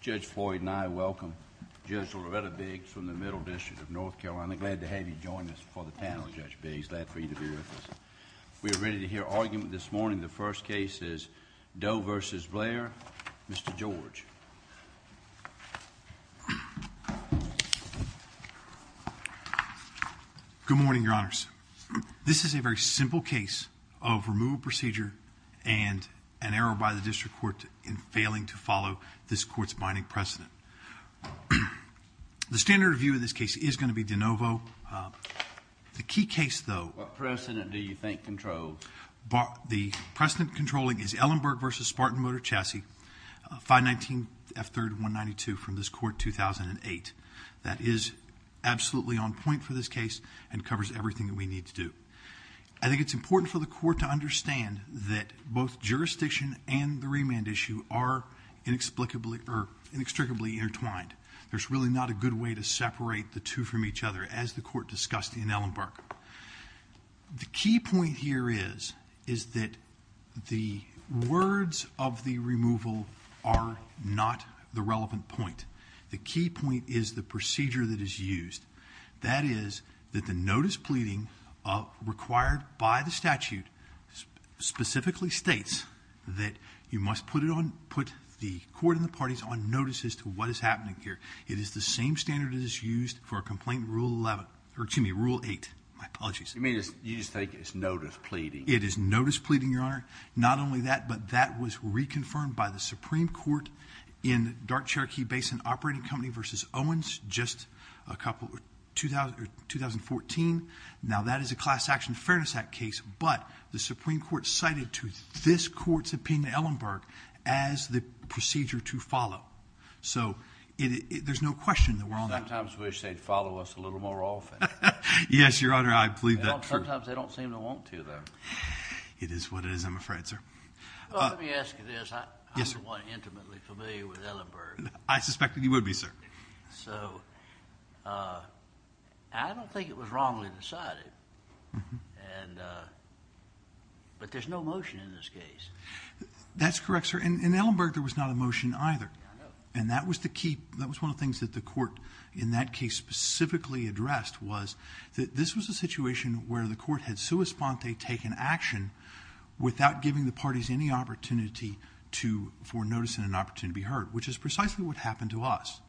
Judge Floyd and I welcome Judge Loretta Biggs from the Middle District of North Carolina. Glad to have you join us for the panel, Judge Biggs. Glad for you to be with us. We are ready to hear argument this morning. The first case is Doe v. Blair. Mr. George. Good morning, Your Honors. This is a very simple case of removal procedure and an error by the district court in failing to follow this court's binding precedent. The standard of view in this case is going to be de novo. The key case, though... What precedent do you think controls? The precedent controlling is Ellenberg v. Spartan Motor Chassis, 519F3192 from this court 2008. That is absolutely on point for this case and covers everything that we need to do. I think it's important for the court to understand that both jurisdiction and the remand issue are inextricably intertwined. There's really not a good way to separate the two from each other, as the court discussed in Ellenberg. The key point here is that the words of the removal are not the relevant point. The key point is the procedure that is used. That is that the notice pleading required by the statute specifically states that you must put the court and the parties on notice as to what is happening here. It is the same standard that is used for a complaint in Rule 8. You just think it's notice pleading? It is notice pleading, Your Honor. Not only that, but that was reconfirmed by the Supreme Court in Dark Cherokee Basin Operating Company v. Owens just a couple...2014. Now, that is a Class Action Fairness Act case, but the Supreme Court cited to this court's opinion in Ellenberg as the procedure to follow. So, there's no question that we're on that. Sometimes we wish they'd follow us a little more often. Yes, Your Honor, I believe that. Sometimes they don't seem to want to, though. It is what it is, I'm afraid, sir. Let me ask you this. Yes, sir. I'm the one intimately familiar with Ellenberg. I suspected you would be, sir. So, I don't think it was wrongly decided, but there's no motion in this case. That's correct, sir. In Ellenberg, there was not a motion either. I know. And that was the key. That was one of the things that the court, in that case, specifically addressed was that this was a situation where the court had sui sponte, taken action, without giving the parties any opportunity for notice and an opportunity to be heard, which is precisely what happened to us.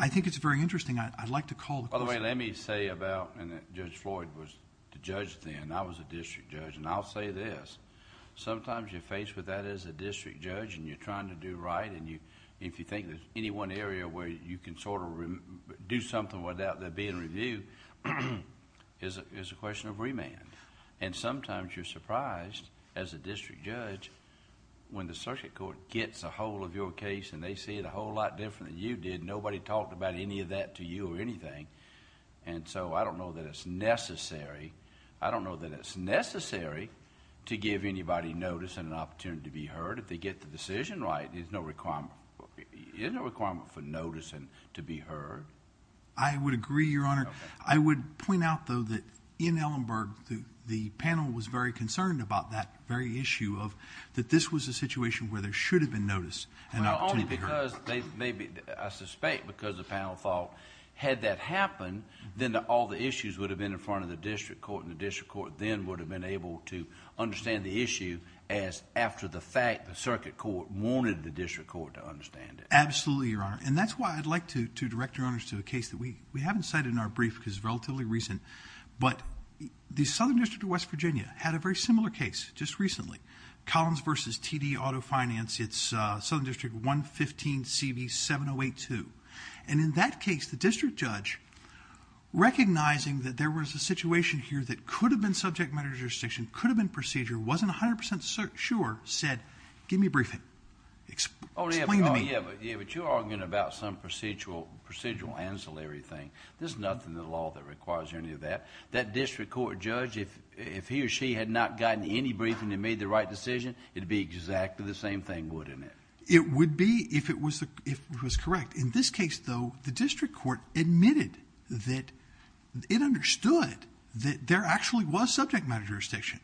I think it's very interesting. I'd like to call the question. By the way, let me say about, and Judge Floyd was the judge then. I was a district judge. And I'll say this. Sometimes you're faced with that as a district judge, and you're trying to do right. And if you think there's any one area where you can sort of do something without there being a review, it's a question of remand. And sometimes you're surprised, as a district judge, when the circuit court gets a hold of your case and they see it a whole lot different than you did. Nobody talked about any of that to you or anything. And so, I don't know that it's necessary. I don't know that it's necessary to give anybody notice and an opportunity to be heard if they get the decision right. There's no requirement. There's no requirement for notice and to be heard. I would agree, Your Honor. I would point out, though, that in Ellenburg, the panel was very concerned about that very issue of that this was a situation where there should have been notice and an opportunity to be heard. Well, only because they maybe, I suspect, because the panel thought had that happened, then all the issues would have been in front of the district court, and the district court then would have been able to understand the issue as after the fact the circuit court wanted the district court to understand it. Absolutely, Your Honor. And that's why I'd like to direct Your Honor to a case that we haven't cited in our brief because it's relatively recent. But the Southern District of West Virginia had a very similar case just recently. Collins v. TD Auto Finance. It's Southern District 115CV7082. And in that case, the district judge, recognizing that there was a situation here that could have been subject matter jurisdiction, could have been procedure, wasn't 100% sure, said, give me a briefing. Explain to me. Yeah, but you're arguing about some procedural ancillary thing. There's nothing in the law that requires any of that. That district court judge, if he or she had not gotten any briefing and made the right decision, it would be exactly the same thing, wouldn't it? It would be if it was correct. In this case, though, the district court admitted that it understood that there actually was subject matter jurisdiction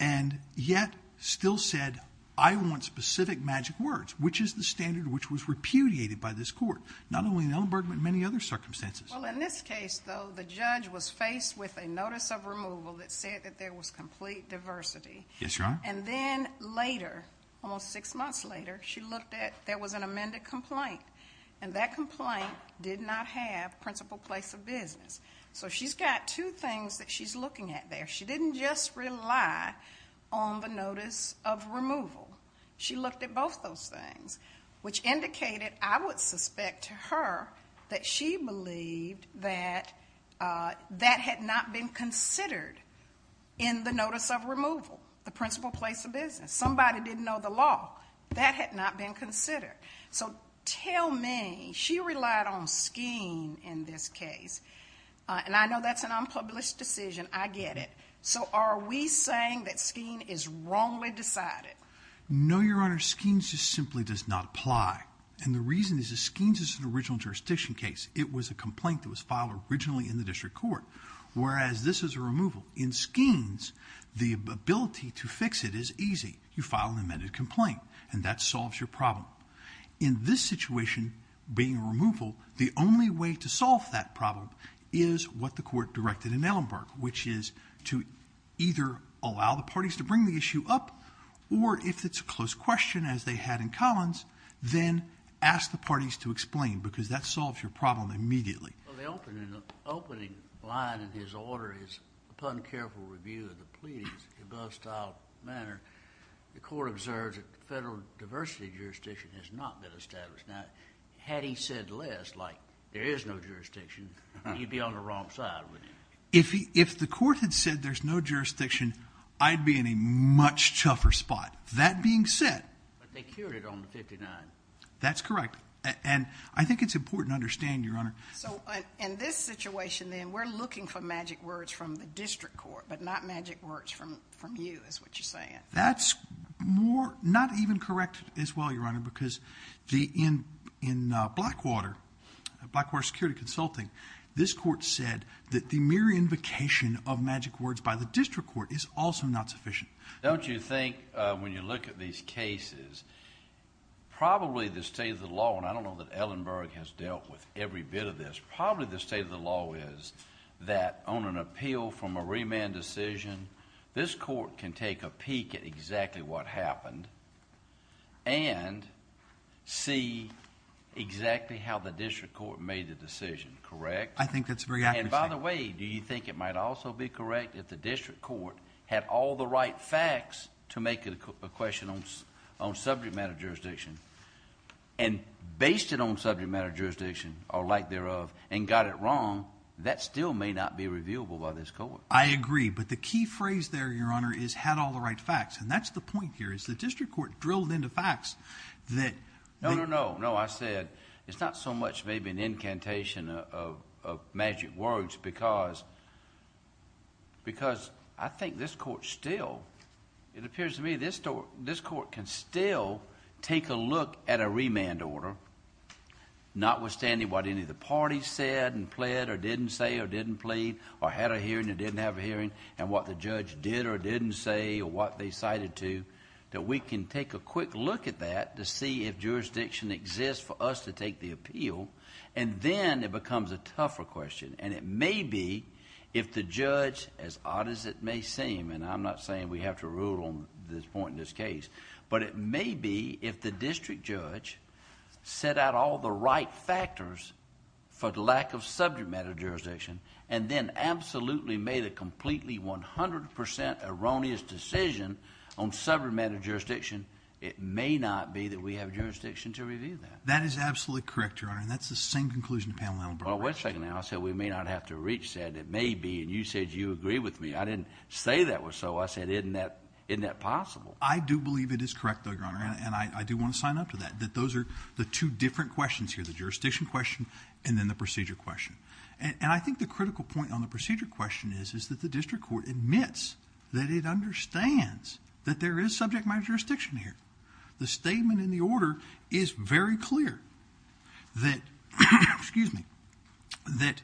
and yet still said, I want specific magic words, which is the standard which was repudiated by this court, not only in Ellenberg but many other circumstances. Well, in this case, though, the judge was faced with a notice of removal that said that there was complete diversity. Yes, Your Honor. And then later, almost six months later, she looked at, there was an amended complaint, and that complaint did not have principal place of business. So she's got two things that she's looking at there. She didn't just rely on the notice of removal. She looked at both those things, which indicated, I would suspect to her, that she believed that that had not been considered in the notice of removal, the principal place of business. Somebody didn't know the law. That had not been considered. So tell me, she relied on Skeen in this case, and I know that's an unpublished decision. I get it. So are we saying that Skeen is wrongly decided? No, Your Honor. Skeen just simply does not apply. And the reason is that Skeen is an original jurisdiction case. It was a complaint that was filed originally in the district court, whereas this is a removal. In Skeen's, the ability to fix it is easy. You file an amended complaint, and that solves your problem. In this situation, being a removal, the only way to solve that problem is what the court directed in Ellenberg, which is to either allow the parties to bring the issue up, or if it's a close question, as they had in Collins, then ask the parties to explain, because that solves your problem immediately. Well, the opening line in his order is, upon careful review of the pleadings in the above style manner, the court observes that the federal diversity jurisdiction has not been established. Now, had he said less, like there is no jurisdiction, he'd be on the wrong side, wouldn't he? If the court had said there's no jurisdiction, I'd be in a much tougher spot. That being said. But they cured it on the 59. That's correct. And I think it's important to understand, Your Honor. So in this situation, then, we're looking for magic words from the district court, but not magic words from you, is what you're saying. That's not even correct as well, Your Honor, because in Blackwater, Blackwater Security Consulting, this court said that the mere invocation of magic words by the district court is also not sufficient. Don't you think, when you look at these cases, probably the state of the law, and I don't know that Ellenberg has dealt with every bit of this, probably the state of the law is that on an appeal from a remand decision, this court can take a peek at exactly what happened and see exactly how the district court made the decision, correct? I think that's very accurate. And by the way, do you think it might also be correct if the district court had all the right facts to make a question on subject matter jurisdiction and based it on subject matter jurisdiction, or like thereof, and got it wrong? That still may not be reviewable by this court. I agree, but the key phrase there, Your Honor, is had all the right facts. And that's the point here is the district court drilled into facts that... No, no, no. No, I said it's not so much maybe an incantation of magic words because I think this court still... It appears to me this court can still take a look at a remand order, notwithstanding what any of the parties said and pled or didn't say or didn't plead or had a hearing or didn't have a hearing and what the judge did or didn't say or what they cited to, that we can take a quick look at that to see if jurisdiction exists for us to take the appeal. And then it becomes a tougher question. And it may be if the judge, as odd as it may seem, and I'm not saying we have to rule on this point in this case, but it may be if the district judge set out all the right factors for the lack of subject matter jurisdiction and then absolutely made a completely 100% erroneous decision on subject matter jurisdiction, it may not be that we have jurisdiction to review that. That is absolutely correct, Your Honor. And that's the same conclusion the panel member brought. Well, wait a second now. I said we may not have to reach that. It may be. And you said you agree with me. I didn't say that was so. I said isn't that possible? I do believe it is correct, Your Honor. And I do want to sign up to that, that those are the two different questions here, the jurisdiction question and then the procedure question. And I think the critical point on the procedure question is that the district court admits that it understands that there is subject matter jurisdiction here. The statement in the order is very clear that, excuse me, that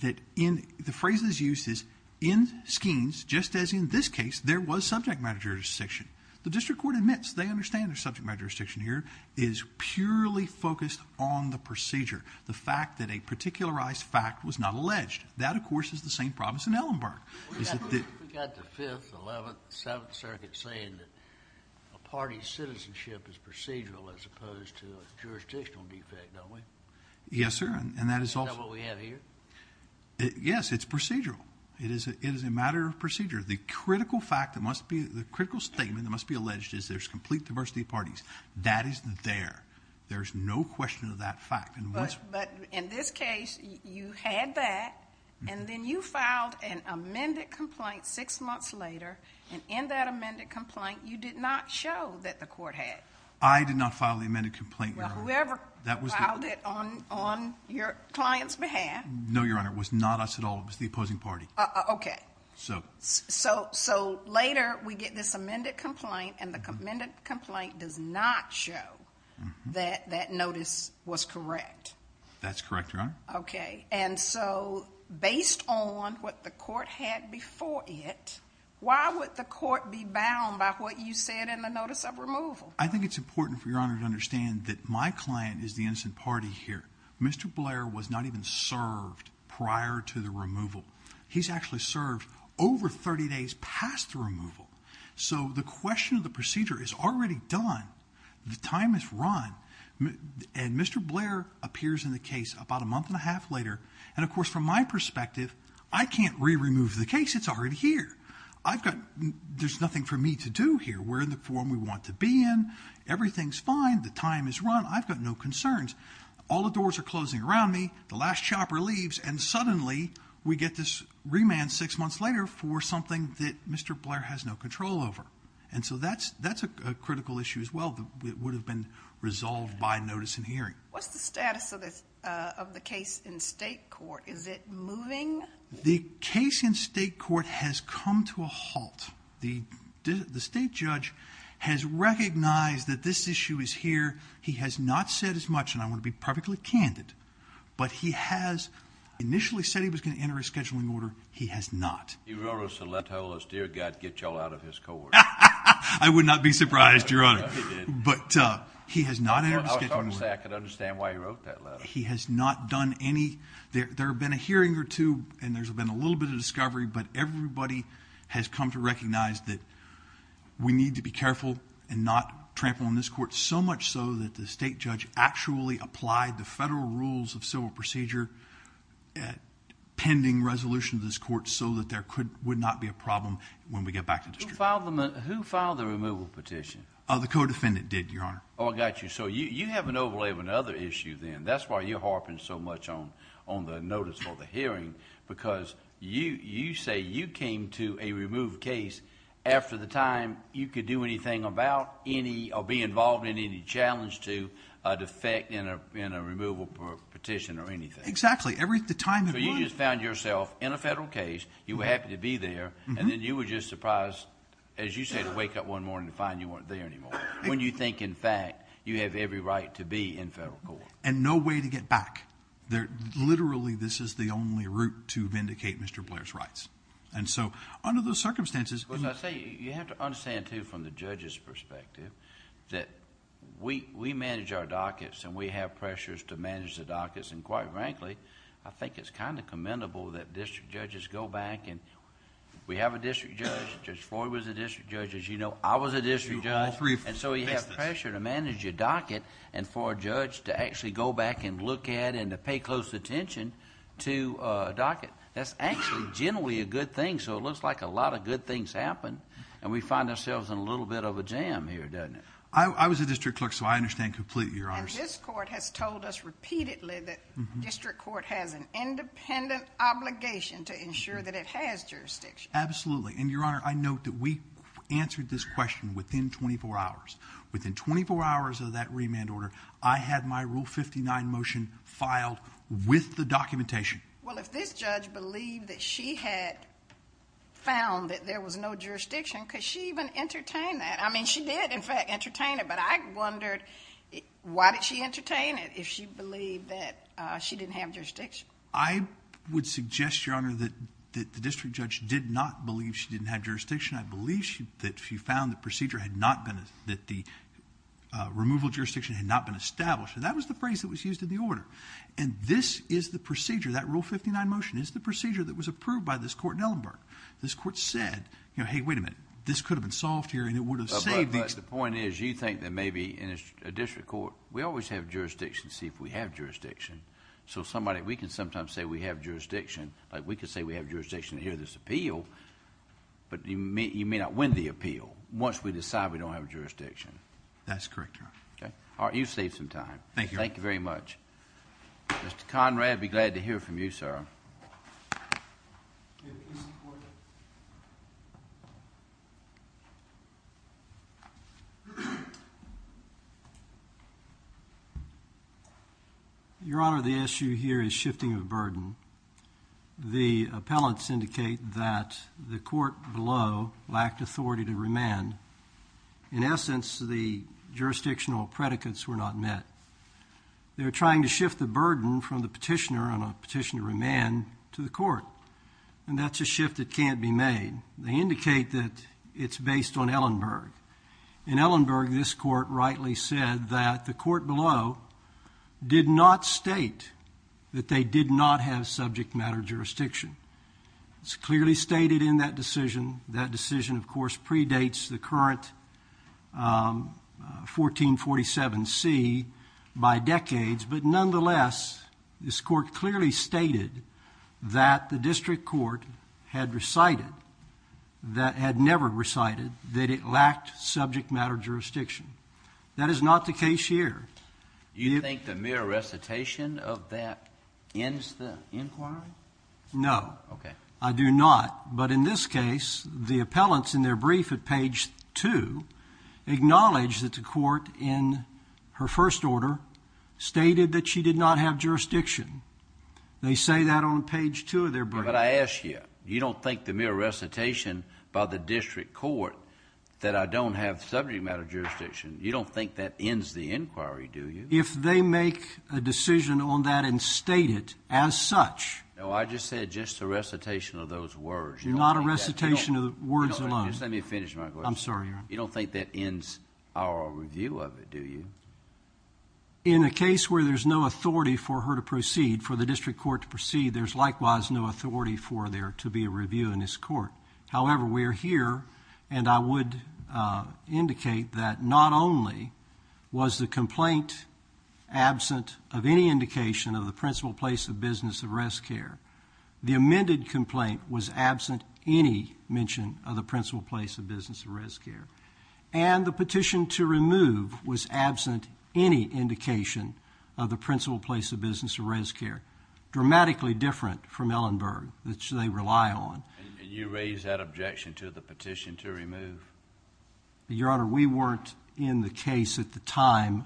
the phrase that's used is in schemes, just as in this case, there was subject matter jurisdiction. The district court admits they understand there's subject matter jurisdiction here. It is purely focused on the procedure, the fact that a particularized fact was not alleged. That, of course, is the same problem as in Ellenburg. We've got the 5th, 11th, 7th Circuit saying that a party's citizenship is procedural as opposed to a jurisdictional defect, don't we? Yes, sir. Is that what we have here? Yes, it's procedural. It is a matter of procedure. The critical statement that must be alleged is there's complete diversity of parties. That is there. There's no question of that fact. But in this case you had that, and then you filed an amended complaint six months later, and in that amended complaint you did not show that the court had. I did not file the amended complaint, Your Honor. Well, whoever filed it on your client's behalf. No, Your Honor. It was not us at all. It was the opposing party. Okay. So later we get this amended complaint, and the amended complaint does not show that that notice was correct. That's correct, Your Honor. Okay. And so based on what the court had before it, why would the court be bound by what you said in the notice of removal? I think it's important for Your Honor to understand that my client is the innocent party here. Mr. Blair was not even served prior to the removal. He's actually served over 30 days past the removal. So the question of the procedure is already done. The time is run. And Mr. Blair appears in the case about a month and a half later. And, of course, from my perspective, I can't re-remove the case. It's already here. I've got nothing for me to do here. We're in the form we want to be in. Everything's fine. The time is run. I've got no concerns. All the doors are closing around me. The last chopper leaves, and suddenly we get this remand six months later for something that Mr. Blair has no control over. And so that's a critical issue as well that would have been resolved by notice and hearing. What's the status of the case in state court? Is it moving? The case in state court has come to a halt. The state judge has recognized that this issue is here. He has not said as much, and I want to be perfectly candid, but he has initially said he was going to enter a scheduling order. He has not. He wrote us a letter and told us, Dear God, get you all out of his court. I would not be surprised, Your Honor. He did. But he has not entered a scheduling order. I was going to say I could understand why he wrote that letter. He has not done any. There have been a hearing or two, and there's been a little bit of discovery, but everybody has come to recognize that we need to be careful and not trample on this court, so much so that the state judge actually applied the federal rules of civil procedure pending resolution of this court so that there would not be a problem when we get back to district. Who filed the removal petition? The co-defendant did, Your Honor. Oh, I got you. So you have an overlay of another issue then. That's why you're harping so much on the notice or the hearing because you say you came to a removed case after the time you could do anything about any or be involved in any challenge to a defect in a removal petition or anything. Exactly. So you just found yourself in a federal case, you were happy to be there, and then you were just surprised, as you said, to wake up one morning to find you weren't there anymore when you think, in fact, you have every right to be in federal court. And no way to get back. Literally, this is the only route to vindicate Mr. Blair's rights. Under those circumstances... You have to understand, too, from the judge's perspective that we manage our dockets and we have pressures to manage the dockets. And quite frankly, I think it's commendable that district judges go back. We have a district judge. Judge Floyd was a district judge. As you know, I was a district judge. So you have pressure to manage your docket and for a judge to actually go back and look at and to pay close attention to a docket. That's actually generally a good thing. So it looks like a lot of good things happen. And we find ourselves in a little bit of a jam here, doesn't it? I was a district clerk, so I understand completely, Your Honor. And this court has told us repeatedly that district court has an independent obligation to ensure that it has jurisdiction. Absolutely. And, Your Honor, I note that we answered this question within 24 hours. Within 24 hours of that remand order, I had my Rule 59 motion filed with the documentation. Well, if this judge believed that she had found that there was no jurisdiction, could she even entertain that? I mean, she did, in fact, entertain it. But I wondered, why did she entertain it if she believed that she didn't have jurisdiction? I would suggest, Your Honor, that the district judge did not believe she didn't have jurisdiction. I believe that she found that the removal of jurisdiction had not been established. And that was the phrase that was used in the order. And this is the procedure. That Rule 59 motion is the procedure that was approved by this court in Ellenburg. This court said, you know, hey, wait a minute, this could have been solved here and it would have saved the case. But the point is, you think that maybe in a district court, we always have jurisdiction to see if we have jurisdiction. So, somebody, we can sometimes say we have jurisdiction. Like, we could say we have jurisdiction to hear this appeal. But you may not win the appeal once we decide we don't have jurisdiction. That's correct, Your Honor. All right, you saved some time. Thank you, Your Honor. Thank you very much. Mr. Conrad, be glad to hear from you, sir. Your Honor, the issue here is shifting of burden. The appellants indicate that the court below lacked authority to remand. In essence, the jurisdictional predicates were not met. They're trying to shift the burden from the petitioner on a petition to remand to the court. And that's a shift that can't be made. They indicate that it's based on Ellenburg. In Ellenburg, this court rightly said that the court below did not state that they did not have subject matter jurisdiction. It's clearly stated in that decision. That decision, of course, predates the current 1447C by decades. But nonetheless, this court clearly stated that the district court had recited, that had never recited, that it lacked subject matter jurisdiction. That is not the case here. Do you think the mere recitation of that ends the inquiry? No. Okay. I do not. But in this case, the appellants in their brief at page 2 acknowledge that the court in her first order stated that she did not have jurisdiction. They say that on page 2 of their brief. But I ask you, you don't think the mere recitation by the district court that I don't have subject matter jurisdiction, you don't think that ends the inquiry, do you? If they make a decision on that and state it as such. No, I just said just the recitation of those words. Not a recitation of the words alone. Just let me finish my question. I'm sorry, Your Honor. You don't think that ends our review of it, do you? In a case where there's no authority for her to proceed, for the district court to proceed, there's likewise no authority for there to be a review in this court. However, we're here, and I would indicate that not only was the complaint absent of any indication of the principal place of business of res care. The amended complaint was absent any mention of the principal place of business of res care. And the petition to remove was absent any indication of the principal place of business of res care. Dramatically different from Ellenberg, which they rely on. And you raise that objection to the petition to remove? Your Honor, we weren't in the case at the time.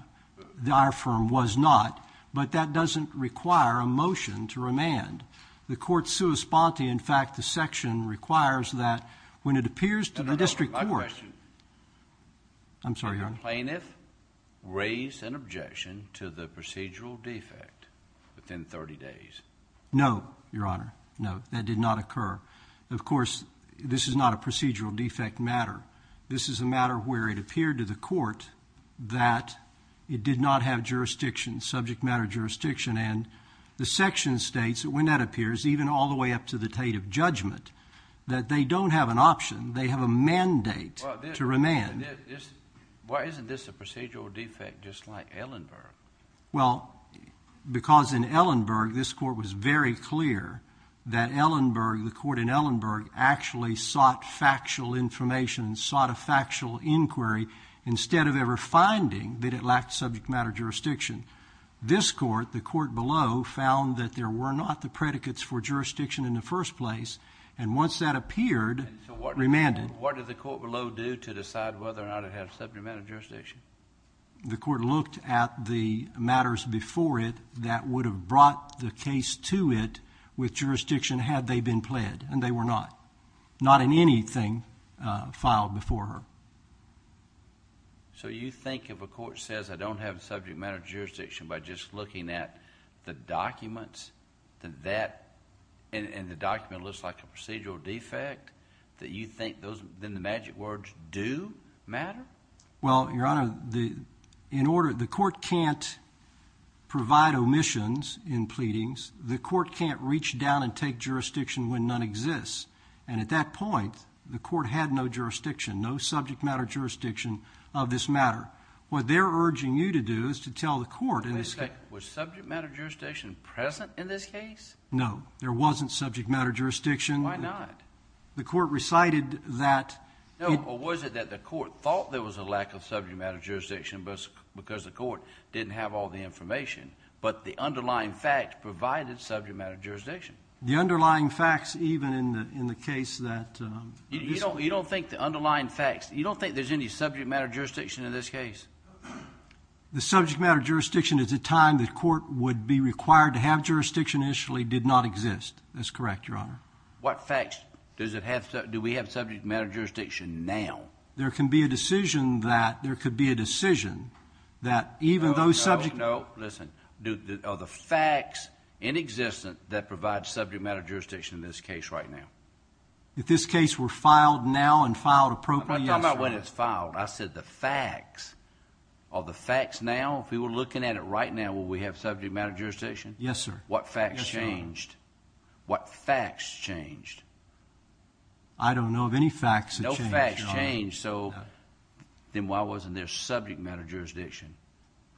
Our firm was not. But that doesn't require a motion to remand. The court's sua sponte, in fact, the section requires that when it appears to the district court. My question. I'm sorry, Your Honor. Did the plaintiff raise an objection to the procedural defect within 30 days? No, Your Honor. No, that did not occur. Of course, this is not a procedural defect matter. This is a matter where it appeared to the court that it did not have jurisdiction, subject matter jurisdiction. And the section states that when that appears, even all the way up to the date of judgment, that they don't have an option. They have a mandate to remand. Why isn't this a procedural defect just like Ellenberg? Well, because in Ellenberg, this court was very clear that Ellenberg, the court in Ellenberg, actually sought factual information and sought a factual inquiry instead of ever finding that it lacked subject matter jurisdiction. This court, the court below, found that there were not the predicates for jurisdiction in the first place. And once that appeared, remanded. What did the court below do to decide whether or not it had subject matter jurisdiction? The court looked at the matters before it that would have brought the case to it with jurisdiction had they been pled, and they were not, not in anything filed before her. So you think if a court says I don't have subject matter jurisdiction by just looking at the documents, and the document looks like a procedural defect, that you think then the magic words do matter? Well, Your Honor, in order, the court can't provide omissions in pleadings. The court can't reach down and take jurisdiction when none exists. And at that point, the court had no jurisdiction, no subject matter jurisdiction of this matter. What they're urging you to do is to tell the court. Was subject matter jurisdiction present in this case? No, there wasn't subject matter jurisdiction. Why not? The court recited that. No, or was it that the court thought there was a lack of subject matter jurisdiction because the court didn't have all the information, but the underlying fact provided subject matter jurisdiction? The underlying facts, even in the case that this case. You don't think the underlying facts, you don't think there's any subject matter jurisdiction in this case? The subject matter jurisdiction at the time the court would be required to have jurisdiction initially did not exist. That's correct, Your Honor. What facts does it have? Do we have subject matter jurisdiction now? There can be a decision that there could be a decision that even though subject matter. No, no, no. Listen, are the facts inexistent that provide subject matter jurisdiction in this case right now? If this case were filed now and filed appropriately, yes, Your Honor. I'm not talking about when it's filed. I said the facts. Are the facts now, if we were looking at it right now, would we have subject matter jurisdiction? Yes, sir. What facts changed? Yes, Your Honor. What facts changed? I don't know of any facts that changed, Your Honor. No facts changed, so then why wasn't there subject matter jurisdiction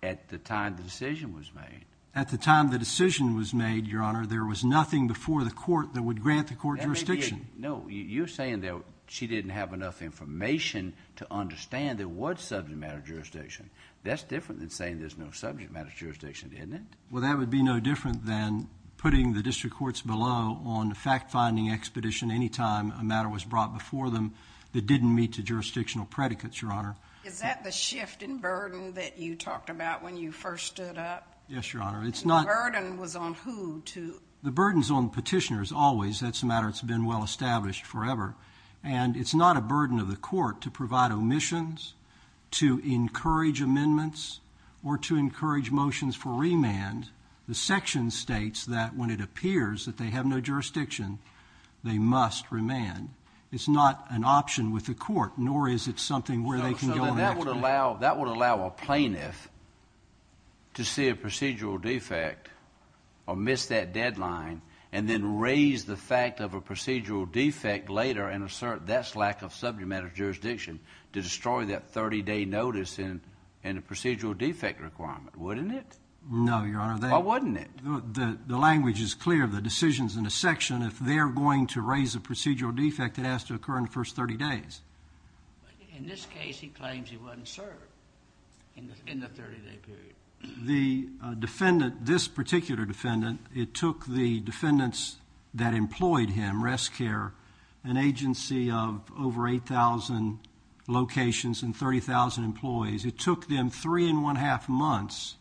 at the time the decision was made? At the time the decision was made, Your Honor, there was nothing before the court that would grant the court jurisdiction. No, you're saying that she didn't have enough information to understand there was subject matter jurisdiction. That's different than saying there's no subject matter jurisdiction, isn't it? Well, that would be no different than putting the district courts below on a fact-finding expedition any time a matter was brought before them that didn't meet the jurisdictional predicates, Your Honor. Is that the shift in burden that you talked about when you first stood up? Yes, Your Honor. And the burden was on who to? The burden's on petitioners always. That's a matter that's been well established forever. And it's not a burden of the court to provide omissions, to encourage amendments, or to encourage motions for remand. The section states that when it appears that they have no jurisdiction, they must remand. It's not an option with the court, nor is it something where they can go and ask for it. So that would allow a plaintiff to see a procedural defect or miss that deadline and then raise the fact of a procedural defect later and assert that's lack of subject matter jurisdiction to destroy that 30-day notice and a procedural defect requirement, wouldn't it? No, Your Honor. Why wouldn't it? The language is clear. The decision's in the section. If they're going to raise a procedural defect, it has to occur in the first 30 days. In this case, he claims he wasn't served in the 30-day period. The defendant, this particular defendant, it took the defendants that employed him, Rest Care, an agency of over 8,000 locations and 30,000 employees, it took them 3 1⁄2 months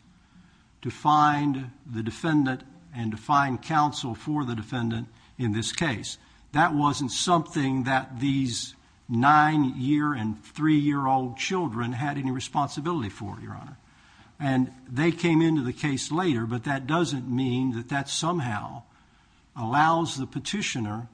to find the defendant and to find counsel for the defendant in this case. That wasn't something that these 9-year and 3-year-old children had any responsibility for, Your Honor. And they came into the case later, but that doesn't mean that that somehow allows the petitioner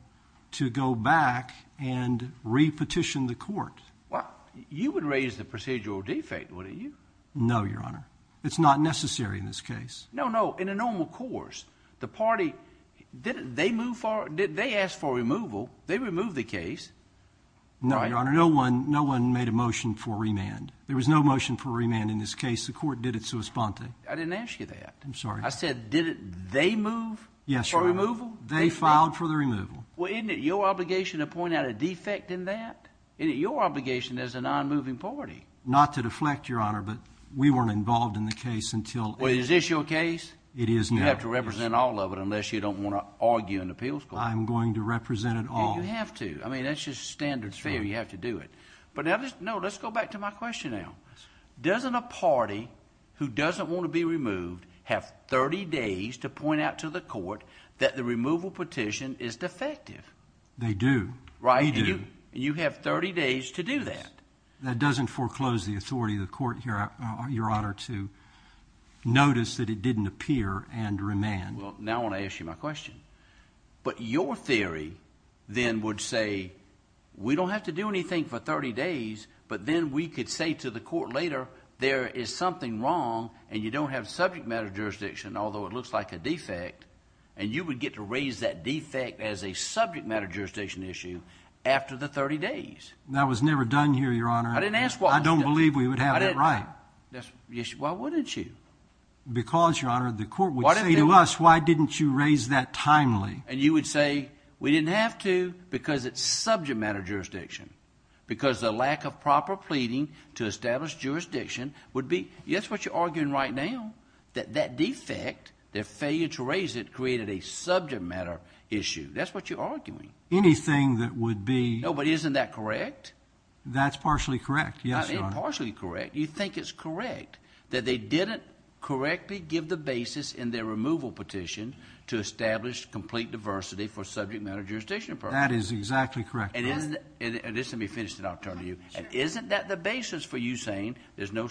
to go back and re-petition the court. Well, you would raise the procedural defect, wouldn't you? No, Your Honor. It's not necessary in this case. No, no. In a normal course, the party, they asked for removal. They removed the case. No, Your Honor. No one made a motion for remand. There was no motion for remand in this case. The court did it sua sponte. I didn't ask you that. I'm sorry. I said, did they move for removal? Yes, Your Honor. They filed for the removal. Well, isn't it your obligation to point out a defect in that? Isn't it your obligation as a non-moving party? Not to deflect, Your Honor, but we weren't involved in the case until— Well, is this your case? It is now. You have to represent all of it unless you don't want to argue in the appeals court. I'm going to represent it all. You have to. I mean, that's just standard fare. You have to do it. No, let's go back to my question now. Doesn't a party who doesn't want to be removed have 30 days to point out to the court that the removal petition is defective? They do. They do. And you have 30 days to do that. That doesn't foreclose the authority of the court, Your Honor, to notice that it didn't appear and remand. Well, now I want to ask you my question. But your theory then would say we don't have to do anything for 30 days, but then we could say to the court later there is something wrong and you don't have subject matter jurisdiction, although it looks like a defect, and you would get to raise that defect as a subject matter jurisdiction issue after the 30 days. That was never done here, Your Honor. I didn't ask why. I don't believe we would have it right. Why wouldn't you? Because, Your Honor, the court would say to us, why didn't you raise that timely? And you would say we didn't have to because it's subject matter jurisdiction, because the lack of proper pleading to establish jurisdiction would be, yes, what you're arguing right now, that that defect, their failure to raise it created a subject matter issue. That's what you're arguing. Anything that would be. No, but isn't that correct? That's partially correct, yes, Your Honor. You think it's correct that they didn't correctly give the basis in their removal petition to establish complete diversity for subject matter jurisdiction purposes. That is exactly correct, Your Honor. And isn't that the basis for you saying there's no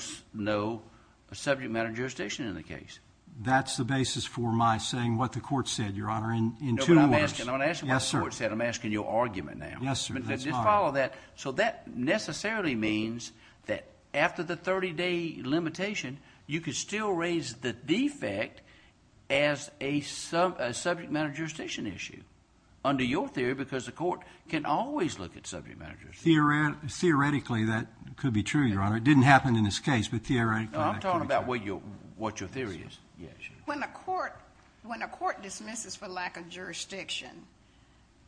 subject matter jurisdiction in the case? That's the basis for my saying what the court said, Your Honor, in two words. No, but I'm asking what the court said. Yes, sir. I'm asking your argument now. Yes, sir. Just follow that. So that necessarily means that after the 30-day limitation, you could still raise the defect as a subject matter jurisdiction issue under your theory because the court can always look at subject matter jurisdiction. Theoretically, that could be true, Your Honor. It didn't happen in this case, but theoretically it could be true. I'm talking about what your theory is. Yes, Your Honor. When a court dismisses for lack of jurisdiction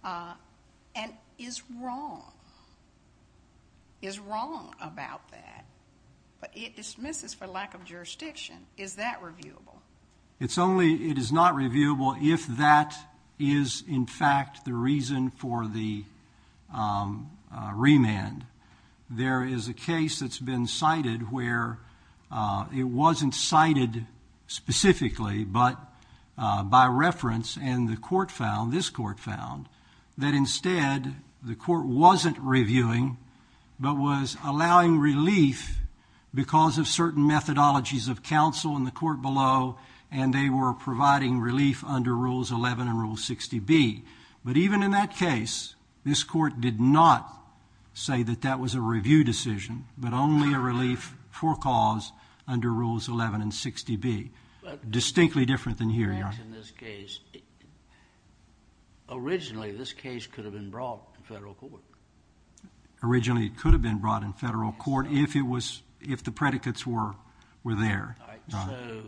and is wrong, is wrong about that, but it dismisses for lack of jurisdiction, is that reviewable? It's only it is not reviewable if that is, in fact, the reason for the remand. There is a case that's been cited where it wasn't cited specifically, but by reference and the court found, this court found, that instead the court wasn't reviewing but was allowing relief because of certain methodologies of counsel in the court below, and they were providing relief under Rules 11 and Rule 60B. But even in that case, this court did not say that that was a review decision but only a relief for cause under Rules 11 and 60B. Distinctly different than here, Your Honor. In this case, originally this case could have been brought in federal court. Originally it could have been brought in federal court if the predicates were there. All right, so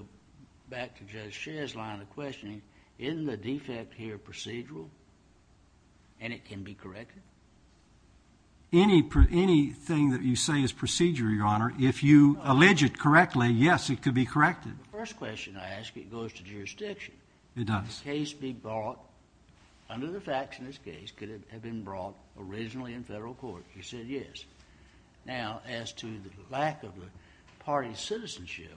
back to Judge Scher's line of questioning, isn't the defect here procedural and it can be corrected? Anything that you say is procedural, Your Honor, if you allege it correctly, yes, it could be corrected. The first question I ask, it goes to jurisdiction. It does. The case be brought under the facts in this case could have been brought originally in federal court. You said yes. Now, as to the lack of the party's citizenship,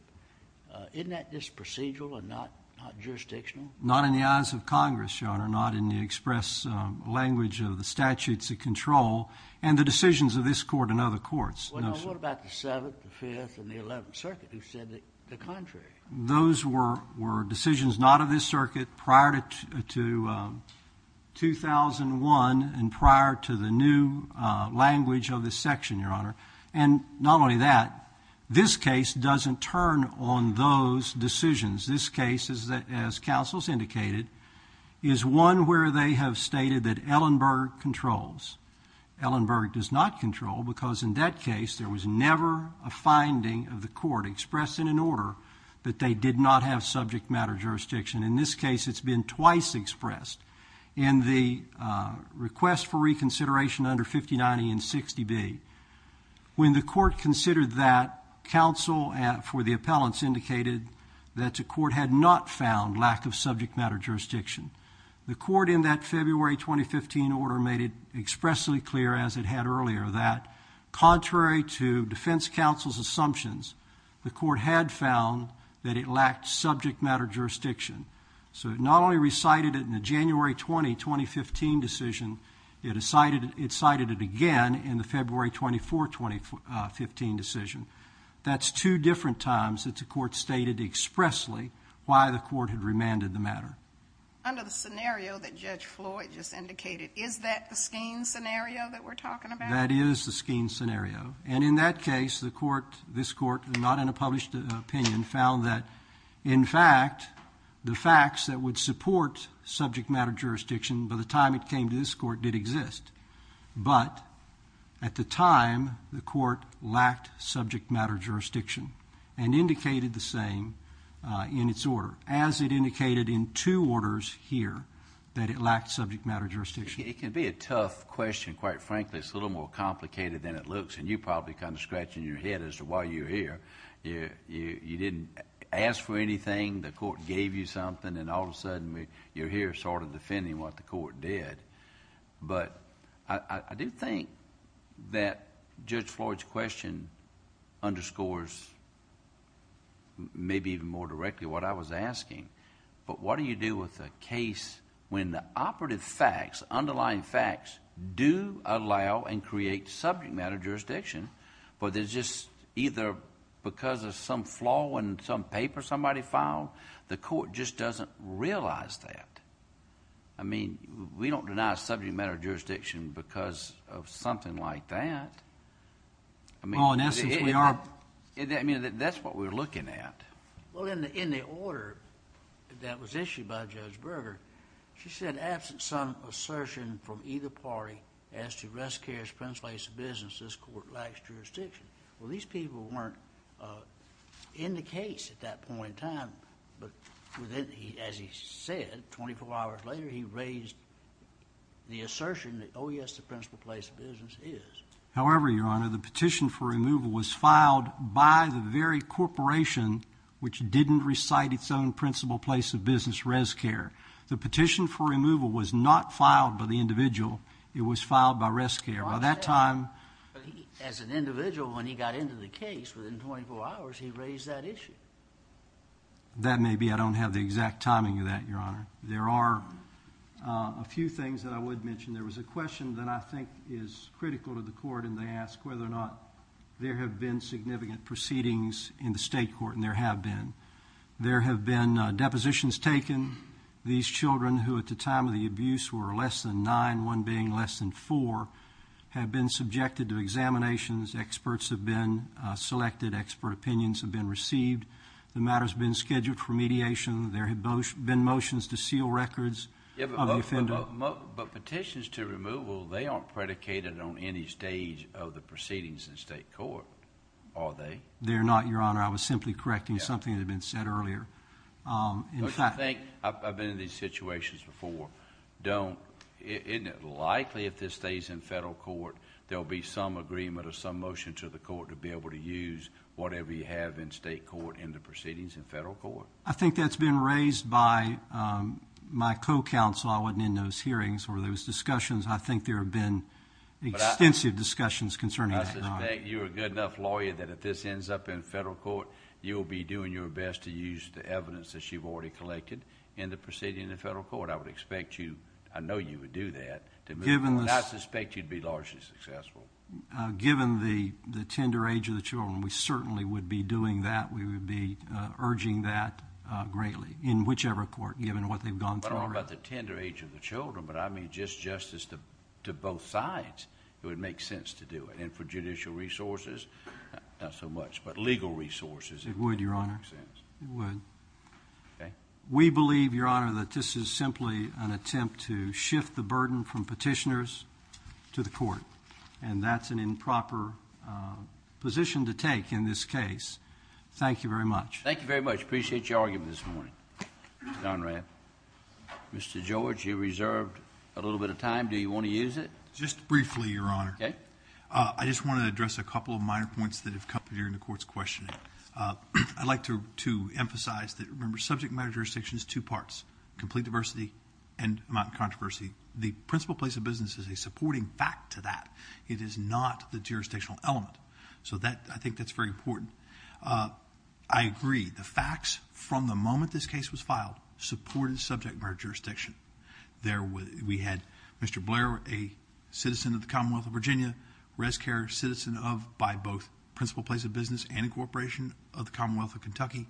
isn't that just procedural and not jurisdictional? Not in the eyes of Congress, Your Honor, not in the express language of the statutes of control and the decisions of this court and other courts. What about the Seventh, the Fifth, and the Eleventh Circuit who said the contrary? Those were decisions not of this circuit prior to 2001 and prior to the new language of this section, Your Honor. And not only that, this case doesn't turn on those decisions. This case, as counsel has indicated, is one where they have stated that Ellenberg controls. Ellenberg does not control because, in that case, there was never a finding of the court expressed in an order that they did not have subject matter jurisdiction. In this case, it's been twice expressed. In the request for reconsideration under 5090 and 60B, when the court considered that, counsel for the appellants indicated that the court had not found lack of subject matter jurisdiction. The court in that February 2015 order made it expressly clear, as it had earlier, that contrary to defense counsel's assumptions, the court had found that it lacked subject matter jurisdiction. So it not only recited it in the January 20, 2015 decision, it cited it again in the February 24, 2015 decision. That's two different times that the court stated expressly why the court had remanded the matter. Under the scenario that Judge Floyd just indicated, is that the Scheen scenario that we're talking about? That is the Scheen scenario. And in that case, the court, this court, not in a published opinion, found that, in fact, the facts that would support subject matter jurisdiction by the time it came to this court did exist. But at the time, the court lacked subject matter jurisdiction and indicated the same in its order, as it indicated in two orders here that it lacked subject matter jurisdiction. It can be a tough question, quite frankly. It's a little more complicated than it looks. And you're probably kind of scratching your head as to why you're here. You didn't ask for anything. The court gave you something. And all of a sudden, you're here sort of defending what the court did. But I do think that Judge Floyd's question underscores maybe even more directly what I was asking. But what do you do with a case when the operative facts, underlying facts, do allow and create subject matter jurisdiction, but there's just either because of some flaw in some paper somebody filed? The court just doesn't realize that. I mean, we don't deny subject matter jurisdiction because of something like that. Oh, in essence, we are. I mean, that's what we're looking at. Well, in the order that was issued by Judge Berger, she said, absent some assertion from either party as to risk, care, expense, place of business, this court lacks jurisdiction. Well, these people weren't in the case at that point in time. But as he said, 24 hours later, he raised the assertion that, oh, yes, the principal place of business is. However, Your Honor, the petition for removal was filed by the very corporation which didn't recite its own principal place of business, ResCare. The petition for removal was not filed by the individual. It was filed by ResCare. By that time, as an individual, when he got into the case within 24 hours, he raised that issue. That may be I don't have the exact timing of that, Your Honor. There are a few things that I would mention. There was a question that I think is critical to the court, and they asked whether or not there have been significant proceedings in the state court, and there have been. There have been depositions taken. These children who at the time of the abuse were less than nine, one being less than four, have been subjected to examinations. Experts have been selected. Expert opinions have been received. The matter has been scheduled for mediation. There have been motions to seal records of the offender. But petitions to removal, they aren't predicated on any stage of the proceedings in state court, are they? They're not, Your Honor. I was simply correcting something that had been said earlier. I've been in these situations before. Isn't it likely if this stays in federal court, there will be some agreement or some motion to the court to be able to use whatever you have in state court in the proceedings in federal court? I think that's been raised by my co-counsel. I wasn't in those hearings or those discussions. I think there have been extensive discussions concerning that, Your Honor. I suspect you're a good enough lawyer that if this ends up in federal court, you will be doing your best to use the evidence that you've already collected in the proceedings in federal court. I would expect you, I know you would do that, to move forward. I suspect you'd be largely successful. Given the tender age of the children, we certainly would be doing that. We would be urging that greatly in whichever court, given what they've gone through. I'm not talking about the tender age of the children, but I mean just justice to both sides. It would make sense to do it. And for judicial resources, not so much, but legal resources. It would, Your Honor. It would. Okay. We believe, Your Honor, that this is simply an attempt to shift the burden from petitioners to the court, and that's an improper position to take in this case. Thank you very much. Thank you very much. Appreciate your argument this morning, Mr. Conrad. Mr. George, you reserved a little bit of time. Do you want to use it? Just briefly, Your Honor. Okay. I just want to address a couple of minor points that have come up during the court's questioning. I'd like to emphasize that, remember, subject matter jurisdiction is two parts, complete diversity and amount of controversy. The principal place of business is a supporting fact to that. It is not the jurisdictional element. So I think that's very important. I agree. The facts from the moment this case was filed supported subject matter jurisdiction. We had Mr. Blair, a citizen of the Commonwealth of Virginia, res care citizen of, by both principal place of business and a corporation of the Commonwealth of Kentucky,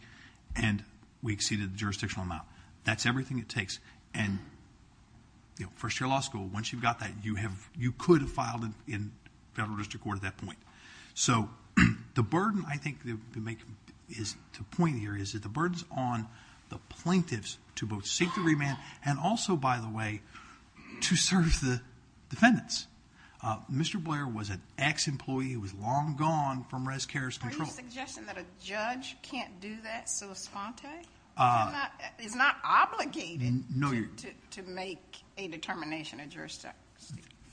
and we exceeded the jurisdictional amount. That's everything it takes. And first-year law school, once you've got that, you could have filed in federal district court at that point. So the burden I think to point here is that the burden is on the plaintiffs to both seek the remand and also, by the way, to serve the defendants. Mr. Blair was an ex-employee. He was long gone from res care's control. Are you suggesting that a judge can't do that sua sponte? It's not obligated to make a determination of jurisdictional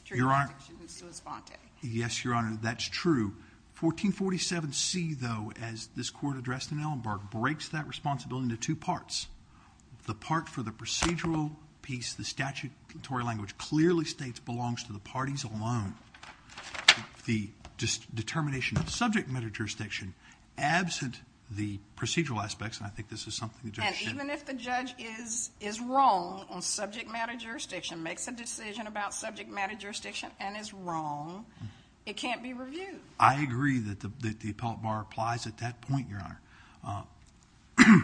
jurisdiction sua sponte. Yes, Your Honor, that's true. 1447C, though, as this court addressed in Ellenberg, breaks that responsibility into two parts. The part for the procedural piece, the statutory language clearly states belongs to the parties alone. The determination of subject matter jurisdiction absent the procedural aspects, and I think this is something the judge should. And even if the judge is wrong on subject matter jurisdiction, makes a decision about subject matter jurisdiction and is wrong, it can't be reviewed. I agree that the appellate bar applies at that point, Your Honor.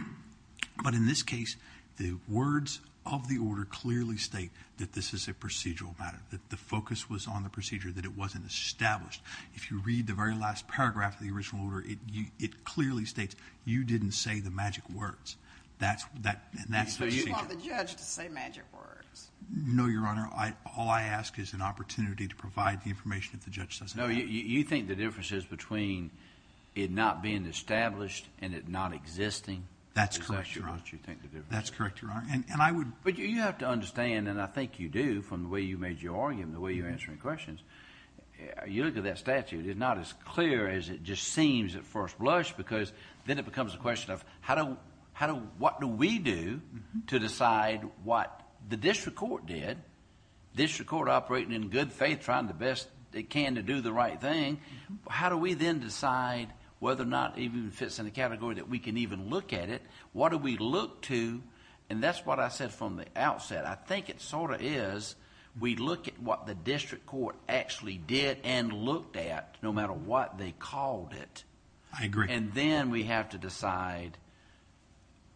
But in this case, the words of the order clearly state that this is a procedural matter, that the focus was on the procedure, that it wasn't established. If you read the very last paragraph of the original order, it clearly states you didn't say the magic words. So you want the judge to say magic words? No, Your Honor. All I ask is an opportunity to provide the information if the judge doesn't have it. No, you think the difference is between it not being established and it not existing? That's correct, Your Honor. Is that what you think the difference is? That's correct, Your Honor. But you have to understand, and I think you do from the way you made your argument, the way you're answering questions, you look at that statute, it's not as clear as it just seems at first blush because then it becomes a question of what do we do to decide what the district court did? District court operating in good faith, trying the best they can to do the right thing. How do we then decide whether or not it even fits in the category that we can even look at it? What do we look to? And that's what I said from the outset. I think it sort of is we look at what the district court actually did and looked at, no matter what they called it. I agree. And then we have to decide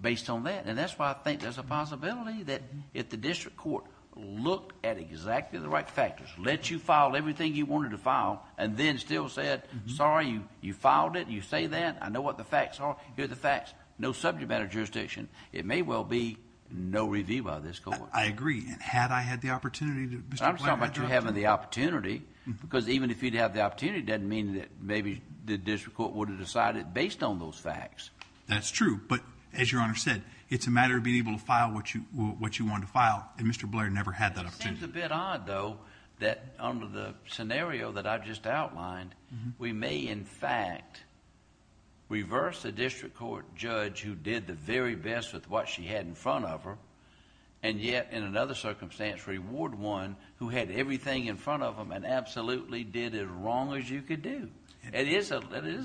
based on that. And that's why I think there's a possibility that if the district court looked at exactly the right factors, let you file everything you wanted to file, and then still said, sorry, you filed it, you say that, I know what the facts are, here are the facts, no subject matter jurisdiction, it may well be no review by this court. I agree. And had I had the opportunity to... I'm talking about you having the opportunity because even if you'd have the opportunity, it doesn't mean that maybe the district court would have decided based on those facts. That's true. But as Your Honor said, it's a matter of being able to file what you wanted to file, and Mr. Blair never had that opportunity. It seems a bit odd, though, that under the scenario that I've just outlined, we may in fact reverse a district court judge who did the very best with what she had in front of her, and yet in another circumstance reward one who had everything in front of them and absolutely did as wrong as you could do. It is a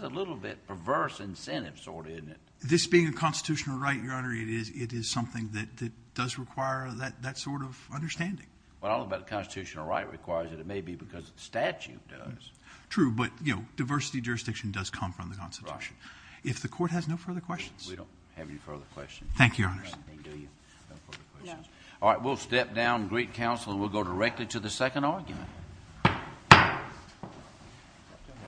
little bit perverse incentive sort of, isn't it? This being a constitutional right, Your Honor, it is something that does require that sort of understanding. Well, I don't know about the constitutional right requires it. It may be because the statute does. True, but, you know, diversity jurisdiction does come from the Constitution. Right. If the court has no further questions... We don't have any further questions. Thank you, Your Honor. All right, we'll step down, greet counsel, and we'll go directly to the second argument. Thank you.